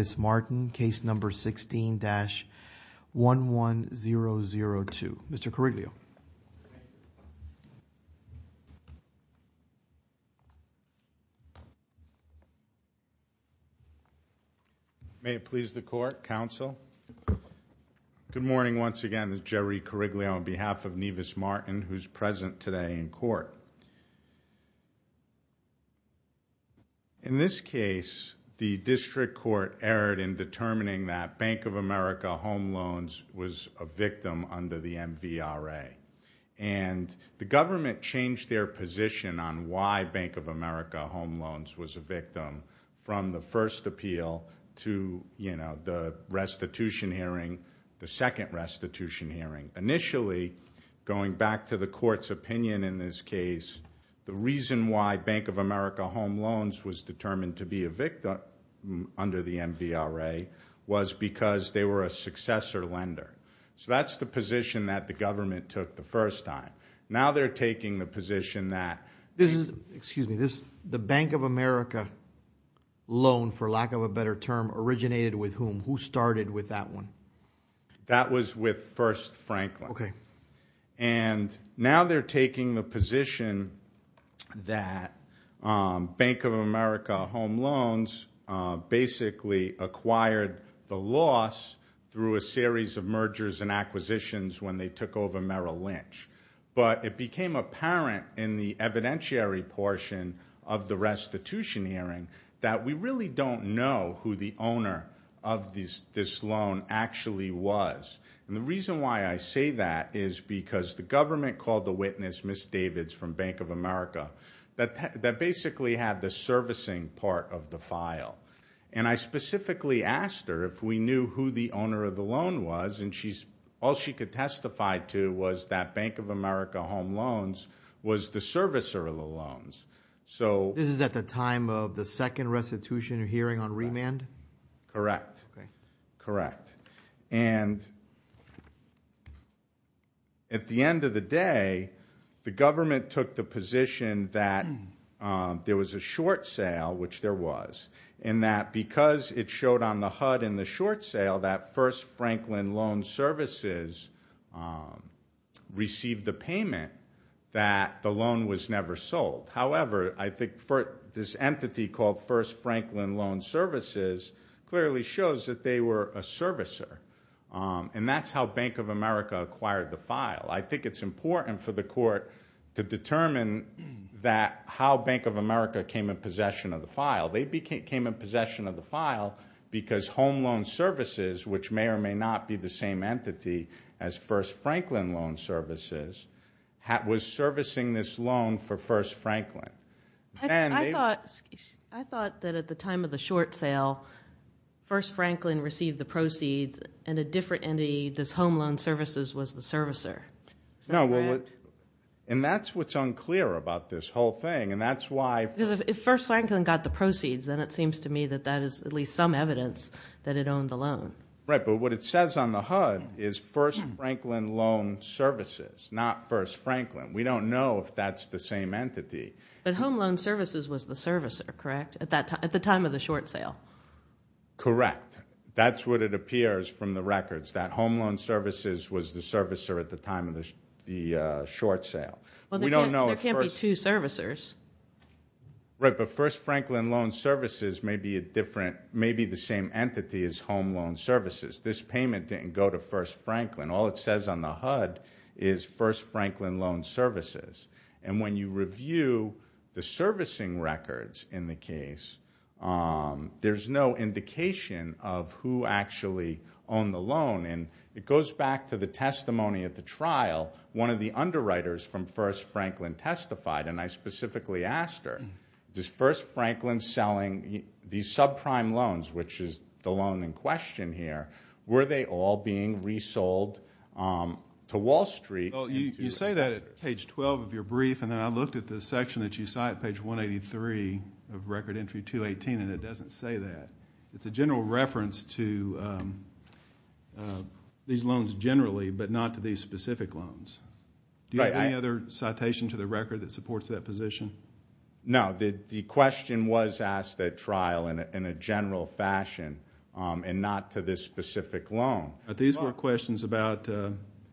Nivis Martin, case number 16-11002. Mr. Coriglio. May it please the court, counsel. Good morning once again, this is Jerry Coriglio on behalf of Nivis Martin who's present today in court. In this case, the district court erred in determining that Bank of America home loans was a victim under the MVRA. And the government changed their position on why Bank of America home loans was a victim from the first appeal to the restitution hearing, the second restitution hearing. Initially, going back to the court's opinion in this case, the reason why Bank of America home loans was determined to be a victim under the MVRA was because they were a successor lender. So that's the position that the government took the first time. Now they're taking the position that... This is, excuse me, this, the Bank of America loan, for lack of a better term, originated with whom? Who started with that one? That was with First Franklin. Okay. And now they're taking the position that Bank of America home loans basically acquired the loss through a series of mergers and acquisitions when they took over Merrill Lynch. But it became apparent in the evidentiary portion of the restitution hearing that we really don't know who the owner of this loan actually was. And the reason why I say that is because the government called the witness, Ms. Davids from Bank of America, that basically had the servicing part of the file. And I specifically asked her if we knew who the owner of the loan was, and all she could testify to was that Bank of America home loans was the servicer of the loans. This is at the time of the second restitution hearing on remand? Correct. Correct. And at the end of the day, the government took the position that there was a short sale, which there was, and that because it showed on the HUD in the short sale that First Franklin Loan Services received the payment, that the loan was never sold. However, I think this entity called First Franklin Loan Services clearly shows that they were a servicer. And that's how Bank of America acquired the file. I think it's important for the court to determine that how Bank of America came in possession of the file. They came in possession of the file because Home Loan Services, which may or may not be the same entity as First Franklin Loan Services, was servicing this loan for First Franklin. I thought that at the time of the short sale, First Franklin received the proceeds, and a different entity, this Home Loan Services, was the servicer. No. And that's what's unclear about this whole thing, and that's why... Because if First Franklin got the proceeds, then it seems to me that that is at least some evidence that it owned the loan. Right. But what it says on the HUD is First Franklin Loan Services, not First Franklin. We don't know if that's the same entity. But Home Loan Services was the servicer, correct, at the time of the short sale? Correct. That's what it appears from the records, that Home Loan Services was the servicer at the time of the short sale. We don't know if First... Well, there can't be two servicers. Right. But First Franklin Loan Services may be the same entity as Home Loan Services. This payment didn't go to First Franklin. All it says on the HUD is First Franklin Loan Services. And when you review the servicing records in the case, there's no indication of who actually owned the loan. And it goes back to the testimony at the trial. One of the underwriters from First Franklin testified, and I specifically asked her, is First Franklin selling these subprime loans, which is the loan in question here, were they all being resold to Wall Street? Well, you say that at page 12 of your brief, and then I looked at the section that you cite, page 183 of Record Entry 218, and it doesn't say that. It's a general reference to these loans generally, but not to these specific loans. Do you have any other citation to the record that supports that position? No. The question was asked at trial in a general fashion, and not to this specific loan. These were questions about,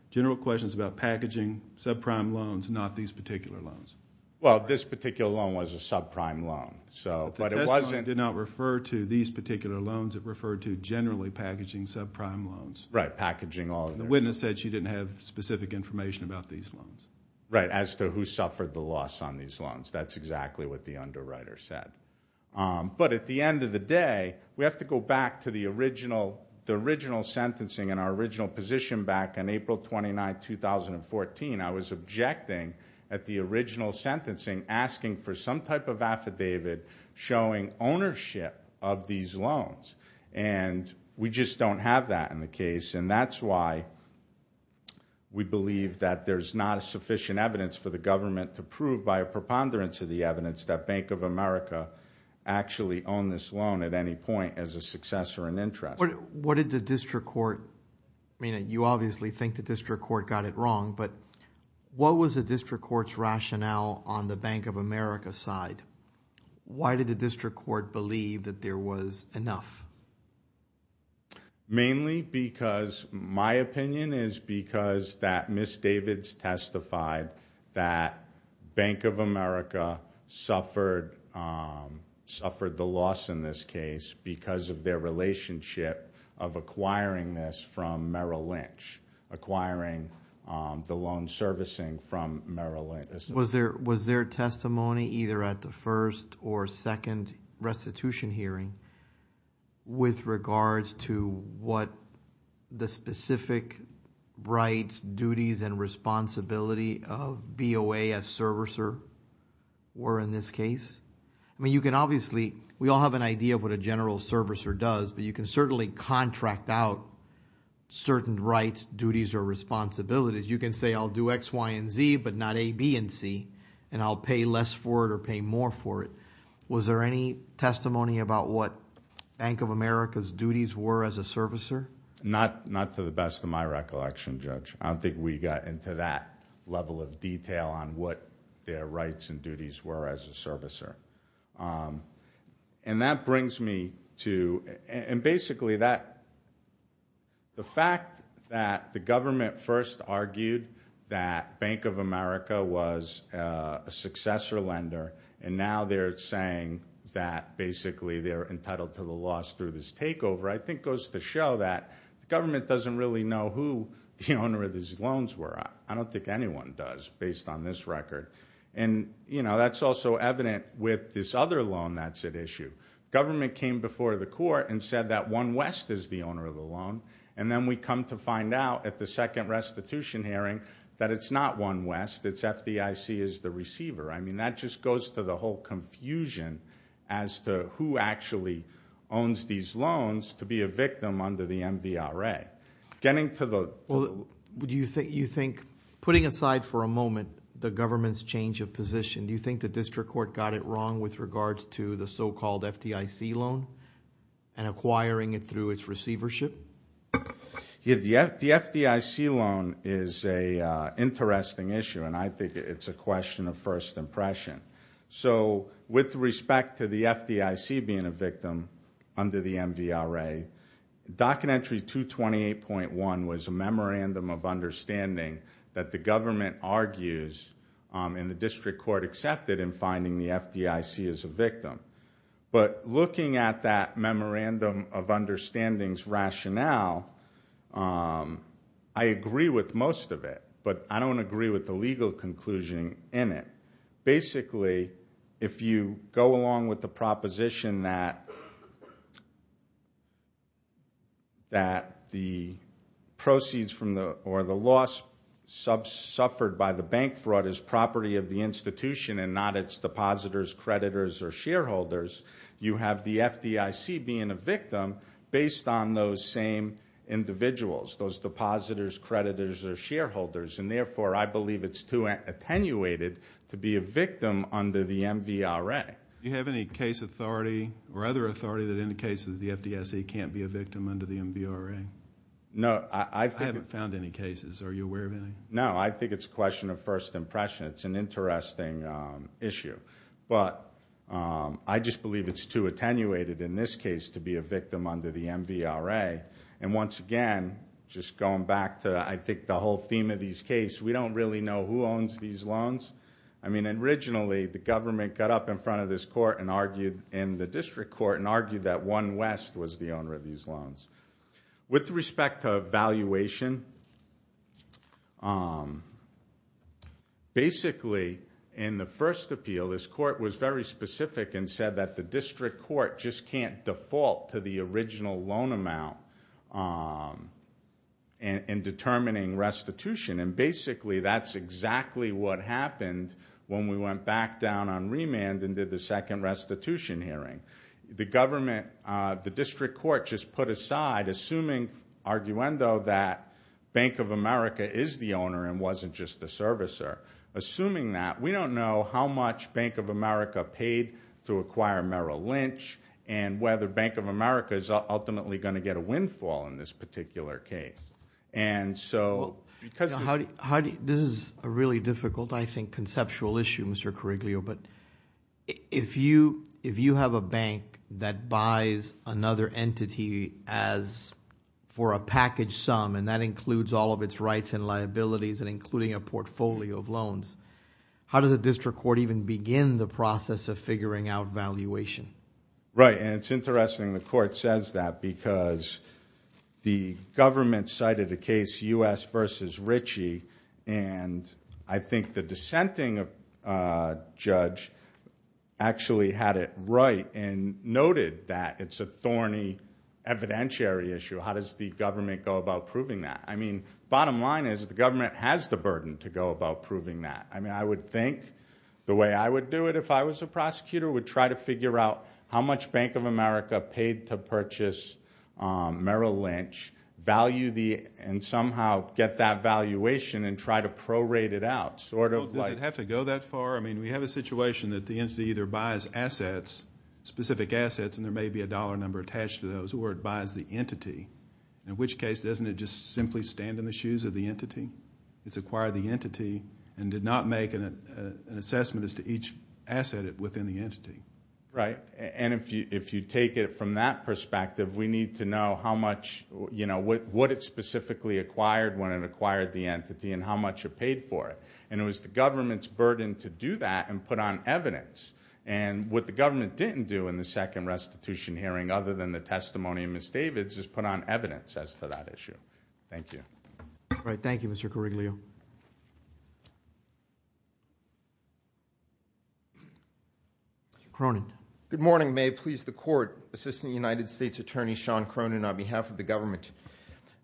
general questions about packaging subprime loans, not these particular loans. Well, this particular loan was a subprime loan. So, but it wasn't- The testimony did not refer to these particular loans. It referred to generally packaging subprime loans. Right, packaging all of them. The witness said she didn't have specific information about these loans. Right, as to who suffered the loss on these loans. That's exactly what the underwriter said. But at the end of the day, we have to go back to the original sentencing and our original position back on April 29, 2014. I was objecting at the original sentencing, asking for some type of affidavit showing ownership of these loans, and we just don't have that in the case. And that's why we believe that there's not sufficient evidence for the government to prove by a preponderance of the evidence that Bank of America actually owned this loan at any point as a successor in interest. What did the district court, I mean, you obviously think the district court got it wrong, but what was the district court's rationale on the Bank of America side? Why did the district court believe that there was enough? Mainly because, my opinion is because that Ms. Davids testified that Bank of America suffered the loss in this case because of their relationship of acquiring this from Merrill Lynch. Acquiring the loan servicing from Merrill Lynch. Was there testimony either at the first or second restitution hearing? With regards to what the specific rights, duties, and responsibility of BOA as servicer were in this case? I mean, you can obviously, we all have an idea of what a general servicer does, but you can certainly contract out certain rights, duties, or responsibilities. You can say I'll do X, Y, and Z, but not A, B, and C. And I'll pay less for it or pay more for it. Was there any testimony about what Bank of America's duties were as a servicer? Not to the best of my recollection, Judge. I don't think we got into that level of detail on what their rights and duties were as a servicer. And that brings me to, and basically that, the fact that the government first argued that Bank of America was a successor lender, and now they're saying that basically they're entitled to the loss through this takeover. I think goes to show that the government doesn't really know who the owner of these loans were. I don't think anyone does, based on this record. And that's also evident with this other loan that's at issue. Government came before the court and said that One West is the owner of the loan. And then we come to find out at the second restitution hearing that it's not One West. It's FDIC as the receiver. I mean, that just goes to the whole confusion as to who actually owns these loans to be a victim under the MVRA. Getting to the- Well, do you think, putting aside for a moment, the government's change of position, do you think the district court got it wrong with regards to the so-called FDIC loan? And acquiring it through its receivership? The FDIC loan is a interesting issue, and I think it's a question of first impression. So, with respect to the FDIC being a victim under the MVRA, Documentary 228.1 was a memorandum of understanding that the government argues, and the district court accepted in finding the FDIC as a victim. But looking at that memorandum of understanding's rationale, I agree with most of it, but I don't agree with the legal conclusion in it. Basically, if you go along with the proposition that the proceeds from the, or the loss suffered by the bank fraud is property of the institution and not its depositors, creditors, or shareholders, you have the FDIC being a victim based on those same individuals, those depositors, creditors, or shareholders. And therefore, I believe it's too attenuated to be a victim under the MVRA. Do you have any case authority, or other authority, that indicates that the FDIC can't be a victim under the MVRA? No, I think- I haven't found any cases. Are you aware of any? No, I think it's a question of first impression. It's an interesting issue. But I just believe it's too attenuated in this case to be a victim under the MVRA. And once again, just going back to, I think, the whole theme of this case, we don't really know who owns these loans. I mean, originally, the government got up in front of this court and argued, in the district court, and argued that One West was the owner of these loans. With respect to valuation, basically, in the first appeal, this court was very specific and said that the district court just can't default to the original loan amount in determining restitution. And basically, that's exactly what happened when we went back down on remand and did the second restitution hearing. The government, the district court just put aside, assuming, arguendo, that Bank of America is the owner and wasn't just the servicer. Assuming that, we don't know how much Bank of America paid to acquire Merrill Lynch, and whether Bank of America is ultimately going to get a windfall in this particular case. And so, because- How do you, this is a really difficult, I think, conceptual issue, Mr. Coriglio. But if you have a bank that buys another entity for a package sum, and that includes all of its rights and liabilities, and including a portfolio of loans, how does a district court even begin the process of figuring out valuation? Right, and it's interesting the court says that because the government cited a case, U.S. versus Ritchie, and I think the dissenting judge actually had it right, and noted that it's a thorny evidentiary issue. How does the government go about proving that? I mean, bottom line is, the government has the burden to go about proving that. I mean, I would think the way I would do it if I was a prosecutor, would try to figure out how much Bank of America paid to purchase Merrill Lynch, value the, and somehow get that valuation, and try to prorate it out, sort of like- Does it have to go that far? I mean, we have a situation that the entity either buys assets, specific assets, and there may be a dollar number attached to those, or it buys the entity. In which case, doesn't it just simply stand in the shoes of the entity? It's acquired the entity, and did not make an assessment as to each asset within the entity. Right, and if you take it from that perspective, we need to know how much, what it specifically acquired when it acquired the entity, and how much it paid for it. And it was the government's burden to do that, and put on evidence. And what the government didn't do in the second restitution hearing, other than the testimony of Ms. Davids, is put on evidence as to that issue. Thank you. All right, thank you, Mr. Koryglio. Mr. Cronin. Good morning, may it please the court. Assistant United States Attorney Sean Cronin on behalf of the government.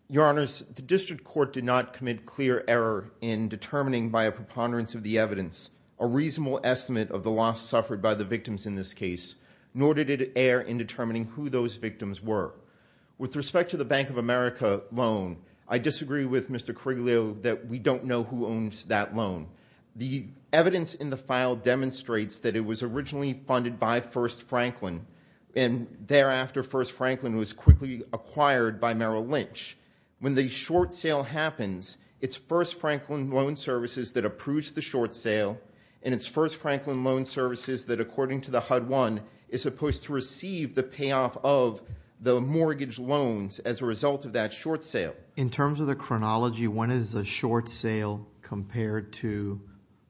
Your honors, the district court did not commit clear error in determining by a preponderance of the evidence a reasonable estimate of the loss suffered by the victims in this case, nor did it err in determining who those victims were. With respect to the Bank of America loan, I disagree with Mr. Koryglio that we don't know who owns that loan. The evidence in the file demonstrates that it was originally funded by First Franklin, and thereafter, First Franklin was quickly acquired by Merrill Lynch. When the short sale happens, it's First Franklin Loan Services that approves the short sale, and it's First Franklin Loan Services that, according to the HUD-1, is supposed to receive the payoff of the mortgage loans as a result of that short sale. In terms of the chronology, when is a short sale compared to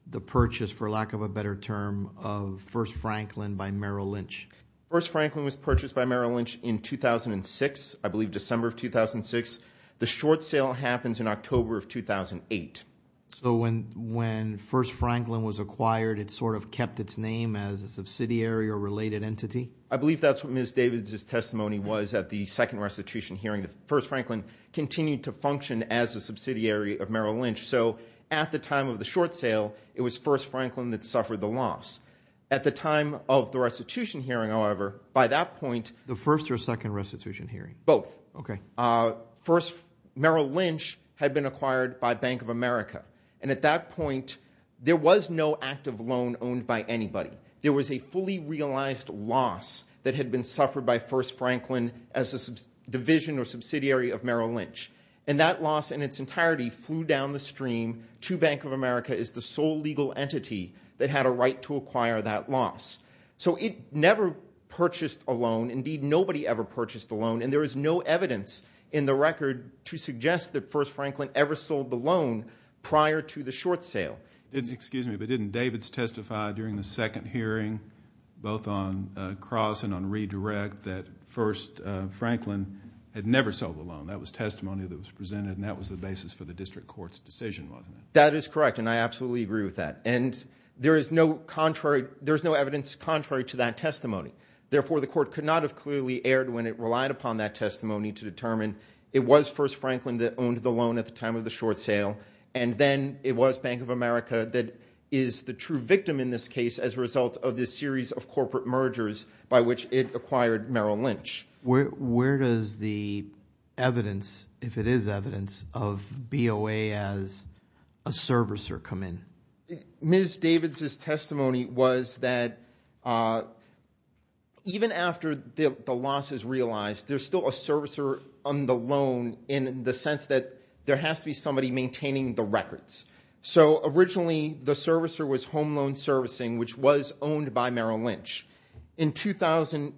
the purchase, for lack of a better term, of First Franklin by Merrill Lynch? First Franklin was purchased by Merrill Lynch in 2006, I believe December of 2006. The short sale happens in October of 2008. So when First Franklin was acquired, it sort of kept its name as a subsidiary or related entity? I believe that's what Ms. Davids' testimony was at the second restitution hearing. First Franklin continued to function as a subsidiary of Merrill Lynch. So at the time of the short sale, it was First Franklin that suffered the loss. At the time of the restitution hearing, however, by that point... The first or second restitution hearing? Both. Okay. First Merrill Lynch had been acquired by Bank of America, and at that point, there was no active loan owned by anybody. There was a fully realized loss that had been suffered by First Franklin as a division or subsidiary of Merrill Lynch. And that loss in its entirety flew down the stream to Bank of America as the sole legal entity that had a right to acquire that loss. So it never purchased a loan. Indeed, nobody ever purchased a loan, and there is no evidence in the record to suggest that First Franklin ever sold the loan prior to the short sale. Excuse me, but didn't Davids testify during the second hearing, both on cross and on redirect, that First Franklin had never sold the loan? That was testimony that was presented, and that was the basis for the district court's decision, wasn't it? That is correct, and I absolutely agree with that. And there is no evidence contrary to that testimony. Therefore, the court could not have clearly erred when it relied upon that testimony to determine it was First Franklin that owned the loan at the time of the short sale, and then it was Bank of America that is the true victim in this case as a result of this series of corporate mergers by which it acquired Merrill Lynch. Where does the evidence, if it is evidence, of BOA as a servicer come in? Ms. Davids' testimony was that even after the loss is realized, there's still a servicer on the loan in the sense that there has to be somebody maintaining the records. So originally, the servicer was Home Loan Servicing, which was owned by Merrill Lynch. In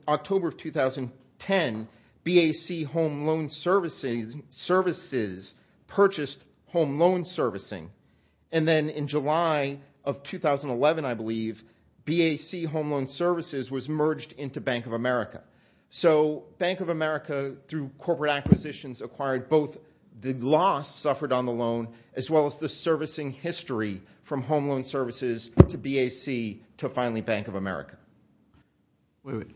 October of 2010, BAC Home Loan Services purchased Home Loan Servicing, and then in July of 2011, I believe, BAC Home Loan Services was merged into Bank of America. So Bank of America, through corporate acquisitions, acquired both the loss suffered on the loan as well as the servicing history from Home Loan Services to BAC to finally Bank of America. Wait, wait.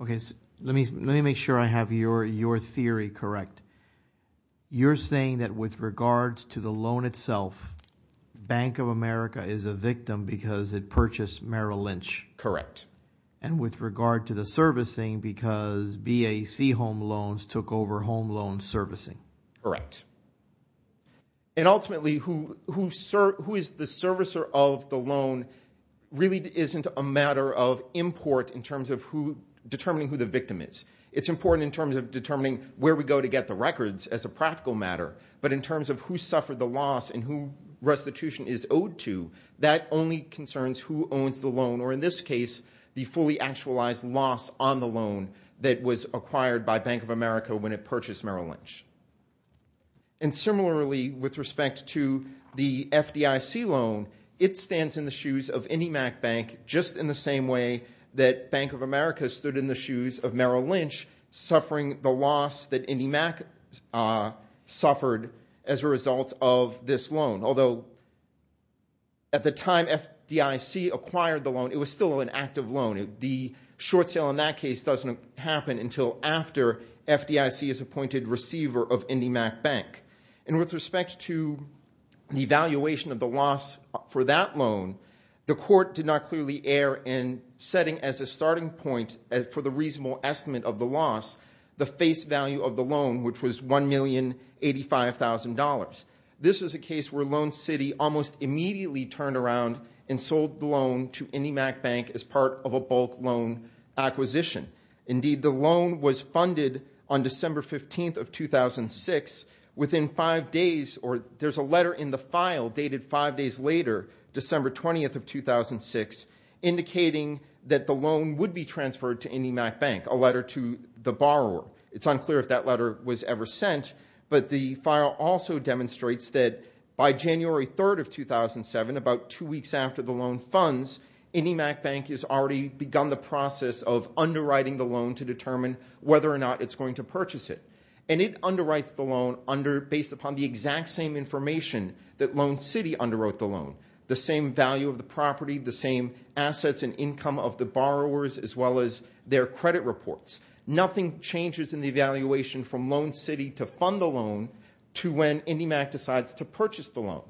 Okay, let me make sure I have your theory correct. You're saying that with regards to the loan itself, Bank of America is a victim because it purchased Merrill Lynch. Correct. And with regard to the servicing because BAC Home Loans took over Home Loan Servicing. Correct. And ultimately, who is the servicer of the loan really isn't a matter of import in terms of determining who the victim is. It's important in terms of determining where we go to get the records as a practical matter. But in terms of who suffered the loss and who restitution is owed to, that only concerns who owns the loan, or in this case, the fully actualized loss on the loan that was acquired by Bank of America when it purchased Merrill Lynch. And similarly, with respect to the FDIC loan, it stands in the shoes of IndyMac Bank just in the same way that Bank of America stood in the shoes of Merrill Lynch suffering the loss that IndyMac suffered as a result of this loan. Although at the time FDIC acquired the loan, it was still an active loan. The short sale in that case doesn't happen until after FDIC is appointed receiver of IndyMac Bank. And with respect to the valuation of the loss for that loan, the court did not clearly err in setting as a starting point for the reasonable estimate of the loss, the face value of the loan, which was $1,085,000. This is a case where Loan City almost immediately turned around and sold the loan to IndyMac Bank as part of a bulk loan acquisition. Indeed, the loan was funded on December 15th of 2006 within five days, or there's a letter in the file dated five days later, December 20th of 2006, indicating that the loan would be transferred to IndyMac Bank, a letter to the borrower. It's unclear if that letter was ever sent, but the file also demonstrates that by January 3rd of 2007, about two weeks after the loan funds, IndyMac Bank has already begun the process of underwriting the loan to determine whether or not it's going to purchase it. And it underwrites the loan based upon the exact same information that Loan City underwrote the loan, the same value of the property, the same assets and income of the borrowers, as well as their credit reports. Nothing changes in the evaluation from Loan City to fund the loan to when IndyMac decides to purchase the loan.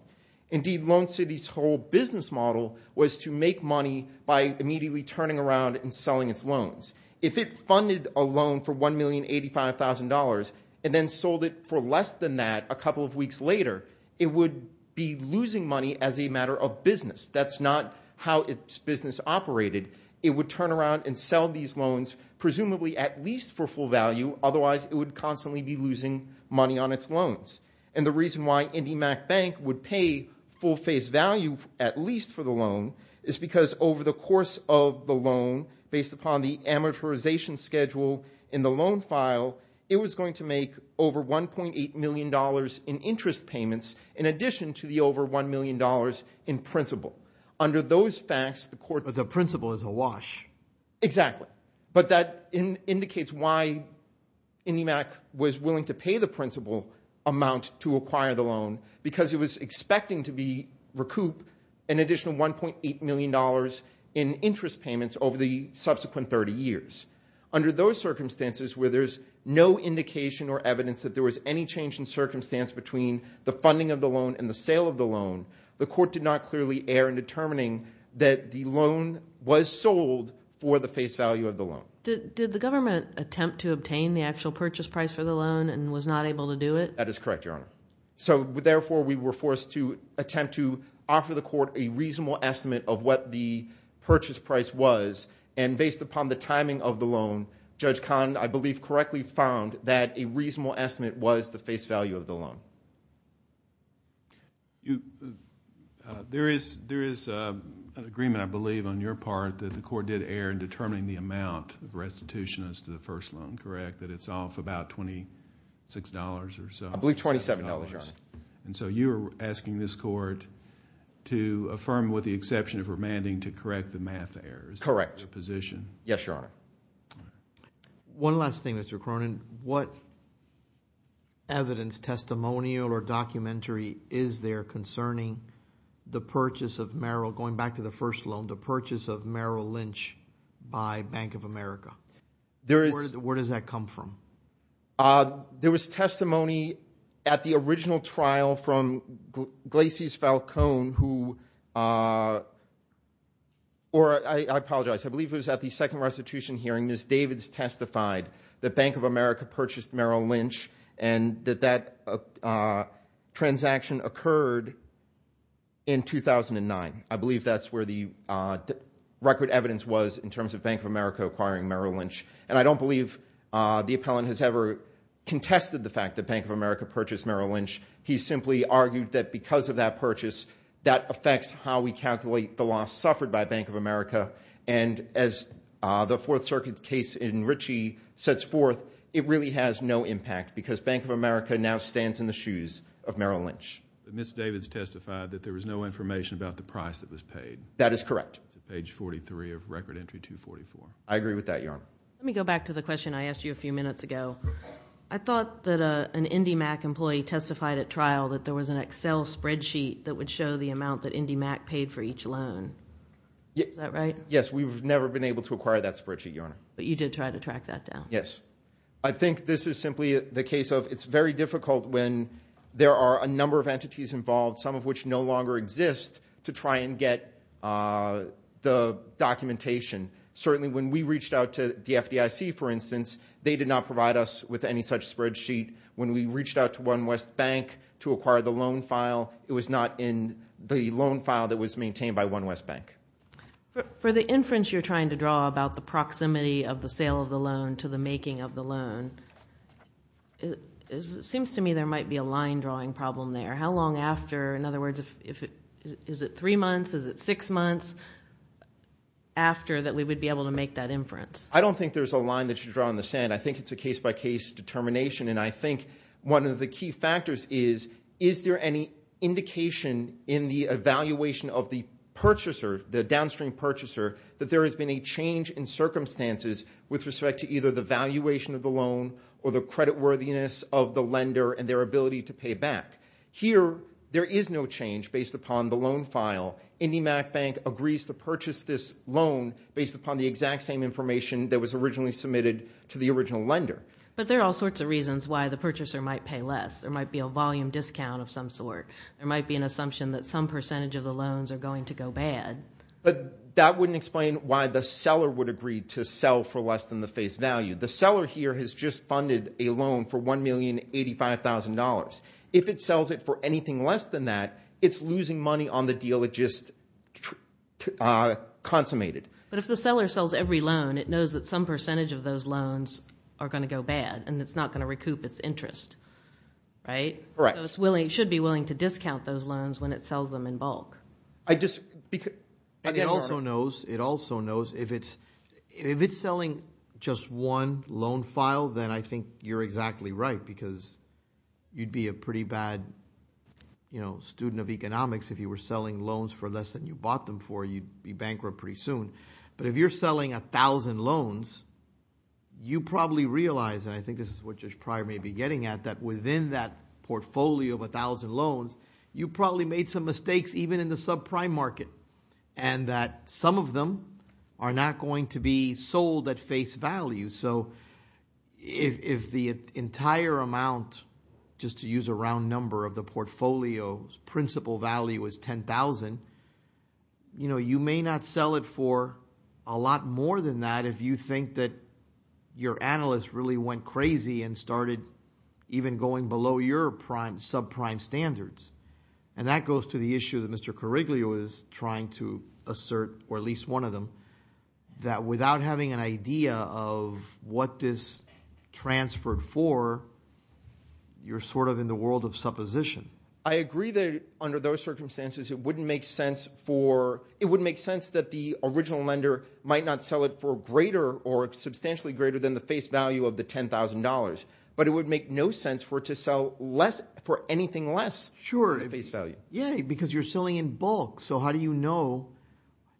Indeed, Loan City's whole business model was to make money by immediately turning around and selling its loans. If it funded a loan for $1,085,000 and then sold it for less than that a couple of weeks later, it would be losing money as a matter of business. That's not how its business operated. It would turn around and sell these loans, presumably at least for full value, otherwise it would constantly be losing money on its loans. And the reason why IndyMac Bank would pay full-face value, at least for the loan, is because over the course of the loan, based upon the amortization schedule in the loan file, it was going to make over $1.8 million in interest payments in addition to the over $1 million in principal. Under those facts, the court... As a principal is a wash. Exactly. But that indicates why IndyMac was willing to pay the principal amount to acquire the loan, because it was expecting to recoup an additional $1.8 million in interest payments over the subsequent 30 years. Under those circumstances, where there's no indication or evidence that there was any change in circumstance between the funding of the loan and the sale of the loan, the court did not clearly err in determining that the loan was sold for the face value of the loan. Did the government attempt to obtain the actual purchase price for the loan and was not able to do it? That is correct, Your Honor. So, therefore, we were forced to attempt to offer the court a reasonable estimate of what the purchase price was. And based upon the timing of the loan, Judge Kahn, I believe, correctly found that a reasonable estimate was the face value of the loan. There is an agreement, I believe, on your part that the court did err in determining the amount of restitution as to the first loan, correct? That it's off about $26 or so. I believe $27, Your Honor. And so you are asking this court to affirm with the exception of remanding to correct the math errors. Correct. The position. Yes, Your Honor. One last thing, Mr. Cronin. What evidence, testimonial or documentary is there concerning the purchase of Merrill, going back to the first loan, the purchase of Merrill Lynch by Bank of America? Where does that come from? There was testimony at the original trial from Glacies Falcone, who, or I apologize, I believe it was at the second restitution hearing, Ms. Davids testified that Bank of America purchased Merrill Lynch and that that transaction occurred in 2009. I believe that's where the record evidence was in terms of Bank of America acquiring Merrill Lynch. And I don't believe the appellant has ever contested the fact that Bank of America purchased Merrill Lynch. He simply argued that because of that purchase, that affects how we calculate the loss suffered by Bank of America. And as the Fourth Circuit case in Ritchie sets forth, it really has no impact because Bank of America now stands in the shoes of Merrill Lynch. But Ms. Davids testified that there was no information about the price that was paid. That is correct. Page 43 of Record Entry 244. I agree with that, Your Honor. Let me go back to the question I asked you a few minutes ago. I thought that an IndyMac employee testified at trial that there was an Excel spreadsheet that would show the amount that IndyMac paid for each loan. Is that right? Yes, we've never been able to acquire that spreadsheet, Your Honor. But you did try to track that down? Yes. I think this is simply the case of, it's very difficult when there are a number of entities involved, some of which no longer exist, to try and get the documentation. Certainly when we reached out to the FDIC, for instance, they did not provide us with any such spreadsheet. When we reached out to One West Bank to acquire the loan file, it was not in the loan file that was maintained by One West Bank. For the inference you're trying to draw about the proximity of the sale of the loan to the making of the loan, it seems to me there might be a line drawing problem there. How long after, in other words, is it three months, is it six months, after that we would be able to make that inference? I don't think there's a line that you draw in the sand. I think it's a case-by-case determination. And I think one of the key factors is, is there any indication in the evaluation of the purchaser, the downstream purchaser, that there has been a change in circumstances with respect to either the valuation of the loan or the creditworthiness of the lender and their ability to pay back? Here, there is no change based upon the loan file. IndyMacBank agrees to purchase this loan based upon the exact same information that was originally submitted to the original lender. But there are all sorts of reasons why the purchaser might pay less. There might be a volume discount of some sort. There might be an assumption that some percentage of the loans are going to go bad. But that wouldn't explain why the seller would agree to sell for less than the face value. The seller here has just funded a loan for $1,085,000. If it sells it for anything less than that, it's losing money on the deal it just consummated. But if the seller sells every loan, it knows that some percentage of those loans are going to go bad, and it's not going to recoup its interest. Right? Correct. So it should be willing to discount those loans when it sells them in bulk. I just, because... And it also knows, it also knows, if it's selling just one loan file, then I think you're exactly right, because you'd be a pretty bad student of economics if you were selling loans for less than you bought them for. You'd be bankrupt pretty soon. But if you're selling 1,000 loans, you probably realize, and I think this is what Josh Pryor may be getting at, that within that portfolio of 1,000 loans, you probably made some mistakes even in the subprime market, and that some of them are not going to be sold at face value. So if the entire amount, just to use a round number of the portfolio's principal value is 10,000, you know, you may not sell it for a lot more than that if you think that your analyst really went crazy and started even going below your subprime standards. And that goes to the issue that Mr. Koryglia was trying to assert, or at least one of them, that without having an idea of what this transferred for, you're sort of in the world of supposition. I agree that under those circumstances, it wouldn't make sense for, it wouldn't make sense that the original lender might not sell it for greater, or substantially greater than the face value of the $10,000. But it would make no sense for it to sell less, for anything less face value. Yeah, because you're selling in bulk. So how do you know?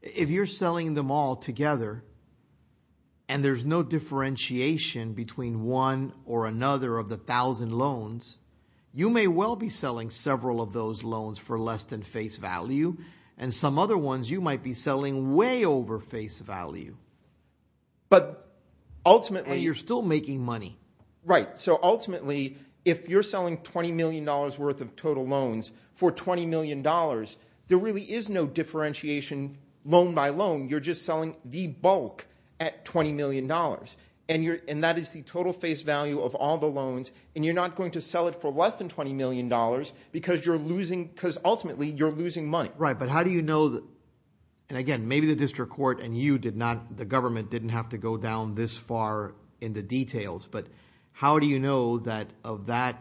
If you're selling them all together, and there's no differentiation between one or another of the 1,000 loans, you may well be selling several of those loans for less than face value. And some other ones you might be selling way over face value. But ultimately, you're still making money. Right, so ultimately, if you're selling $20 million worth of total loans for $20 million, there really is no differentiation loan by loan. You're just selling the bulk at $20 million. And that is the total face value of all the loans. And you're not going to sell it for less than $20 million because you're losing, because ultimately you're losing money. Right, but how do you know that? And again, maybe the district court and you did not, the government didn't have to go down this far in the details. But how do you know that of that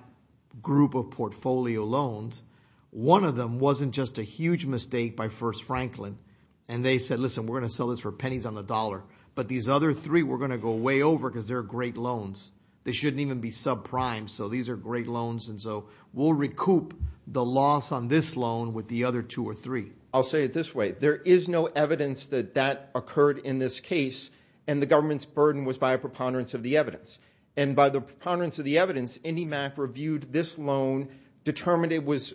group of portfolio loans, one of them wasn't just a huge mistake by First Franklin. And they said, listen, we're going to sell this for pennies on the dollar, but these other three, we're going to go way over because they're great loans. They shouldn't even be subprime. So these are great loans. And so we'll recoup the loss on this loan with the other two or three. I'll say it this way. There is no evidence that that occurred in this case. And the government's burden was by a preponderance of the evidence. And by the preponderance of the evidence, IndyMac reviewed this loan, determined it was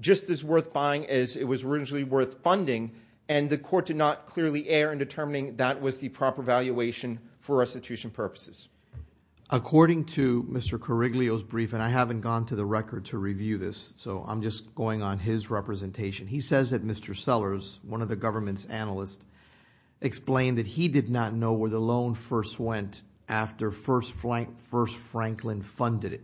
just as worth buying as it was originally worth funding. And the court did not clearly err in determining that was the proper valuation for restitution purposes. According to Mr. Coriglio's brief, and I haven't gone to the record to review this. So I'm just going on his representation. He says that Mr. Sellers, one of the government's analysts, explained that he did not know where the loan first went after First Franklin funded it.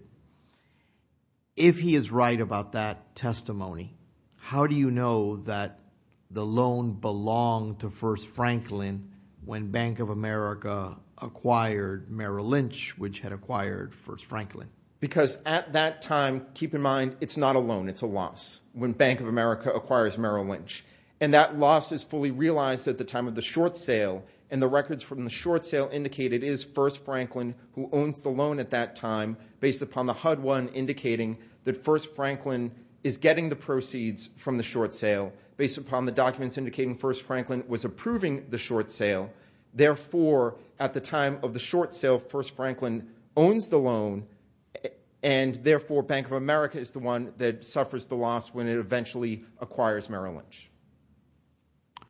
If he is right about that testimony, how do you know that the loan belonged to First Franklin when Bank of America acquired Merrill Lynch, which had acquired First Franklin? Because at that time, keep in mind, it's not a loan, it's a loss when Bank of America acquires Merrill Lynch. And that loss is fully realized at the time of the short sale. And the records from the short sale indicate it is First Franklin who owns the loan at that time based upon the HUD-1 indicating that First Franklin is getting the proceeds from the short sale based upon the documents indicating First Franklin was approving the short sale. Therefore, at the time of the short sale, First Franklin owns the loan. And therefore, Bank of America is the one that suffers the loss when it eventually acquires Merrill Lynch.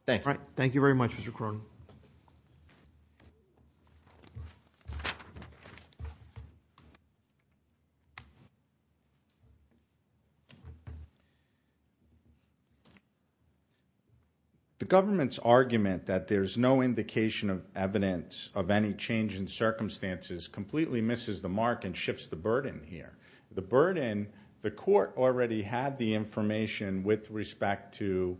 Thank you. Thank you very much, Mr. Cronin. Thank you. The government's argument that there's no indication of evidence of any change in circumstances completely misses the mark and shifts the burden here. The burden, the court already had the information with respect to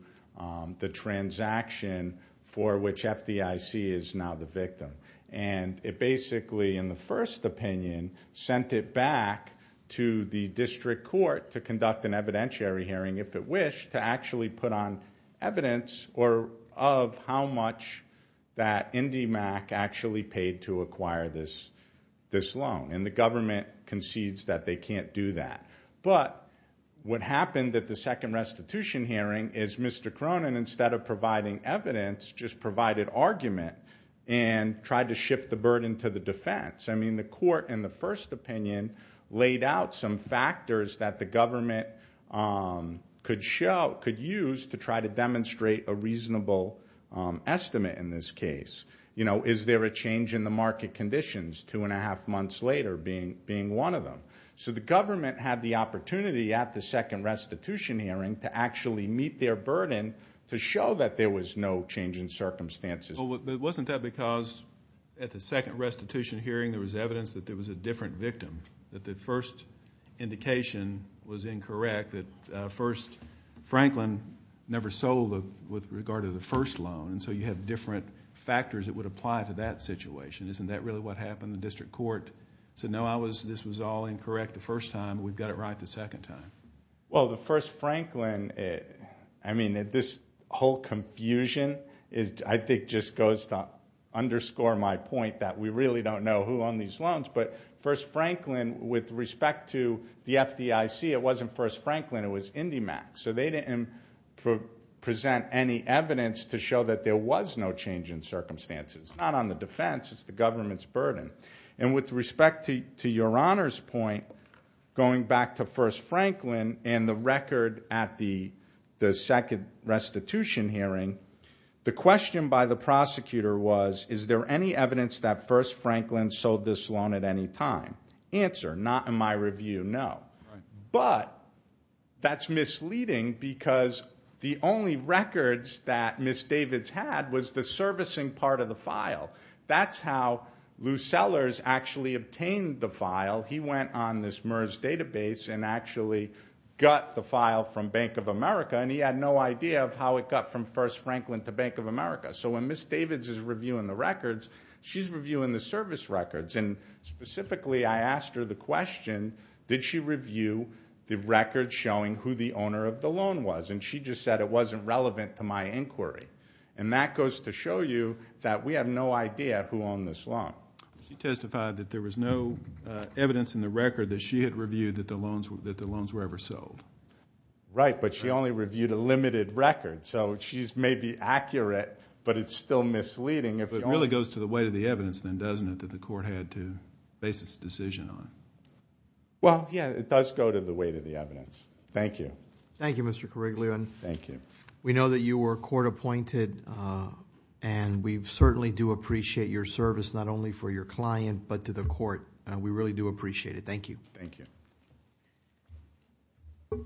the transaction for which FDIC is now the victim. And it basically, in the first opinion, sent it back to the district court to conduct an evidentiary hearing, if it wished, to actually put on evidence or of how much that IndyMac actually paid to acquire this loan. And the government concedes that they can't do that. But what happened at the second restitution hearing is Mr. Cronin, instead of providing evidence, just provided argument and tried to shift the burden to the defense. I mean, the court, in the first opinion, laid out some factors that the government could use to try to demonstrate a reasonable estimate in this case. Is there a change in the market conditions two and a half months later being one of them? So the government had the opportunity at the second restitution hearing to actually meet their burden to show that there was no change in circumstances. But wasn't that because at the second restitution hearing there was evidence that there was a different victim, that the first indication was incorrect, that Franklin never sold with regard to the first loan and so you have different factors that would apply to that situation. Isn't that really what happened? The district court said, no, this was all incorrect the first time. We've got it right the second time. Well, the first Franklin, I mean, this whole confusion I think just goes to underscore my point that we really don't know who on these loans, but first Franklin with respect to the FDIC, it wasn't first Franklin, it was IndyMac. So they didn't present any evidence to show that there was no change in circumstances, not on the defense, it's the government's burden. And with respect to your honor's point, going back to first Franklin and the record at the second restitution hearing, the question by the prosecutor was, is there any evidence that first Franklin sold this loan at any time? Answer, not in my review, no. But that's misleading because the only records that Ms. Davids had was the servicing part of the file. That's how Lou Sellers actually obtained the file. He went on this MERS database and actually got the file from Bank of America and he had no idea of how it got from first Franklin to Bank of America. So when Ms. Davids is reviewing the records, she's reviewing the service records. And specifically, I asked her the question, did she review the records showing who the owner of the loan was? And she just said, it wasn't relevant to my inquiry. And that goes to show you that we have no idea who owned this loan. She testified that there was no evidence in the record that she had reviewed that the loans were ever sold. Right, but she only reviewed a limited record. So she's maybe accurate, but it's still misleading. If it really goes to the weight of the evidence then, doesn't it, that the court had to base its decision on? Well, yeah, it does go to the weight of the evidence. Thank you. Thank you, Mr. Kariglian. Thank you. We know that you were court appointed and we certainly do appreciate your service, not only for your client, but to the court. We really do appreciate it. Thank you. Thank you.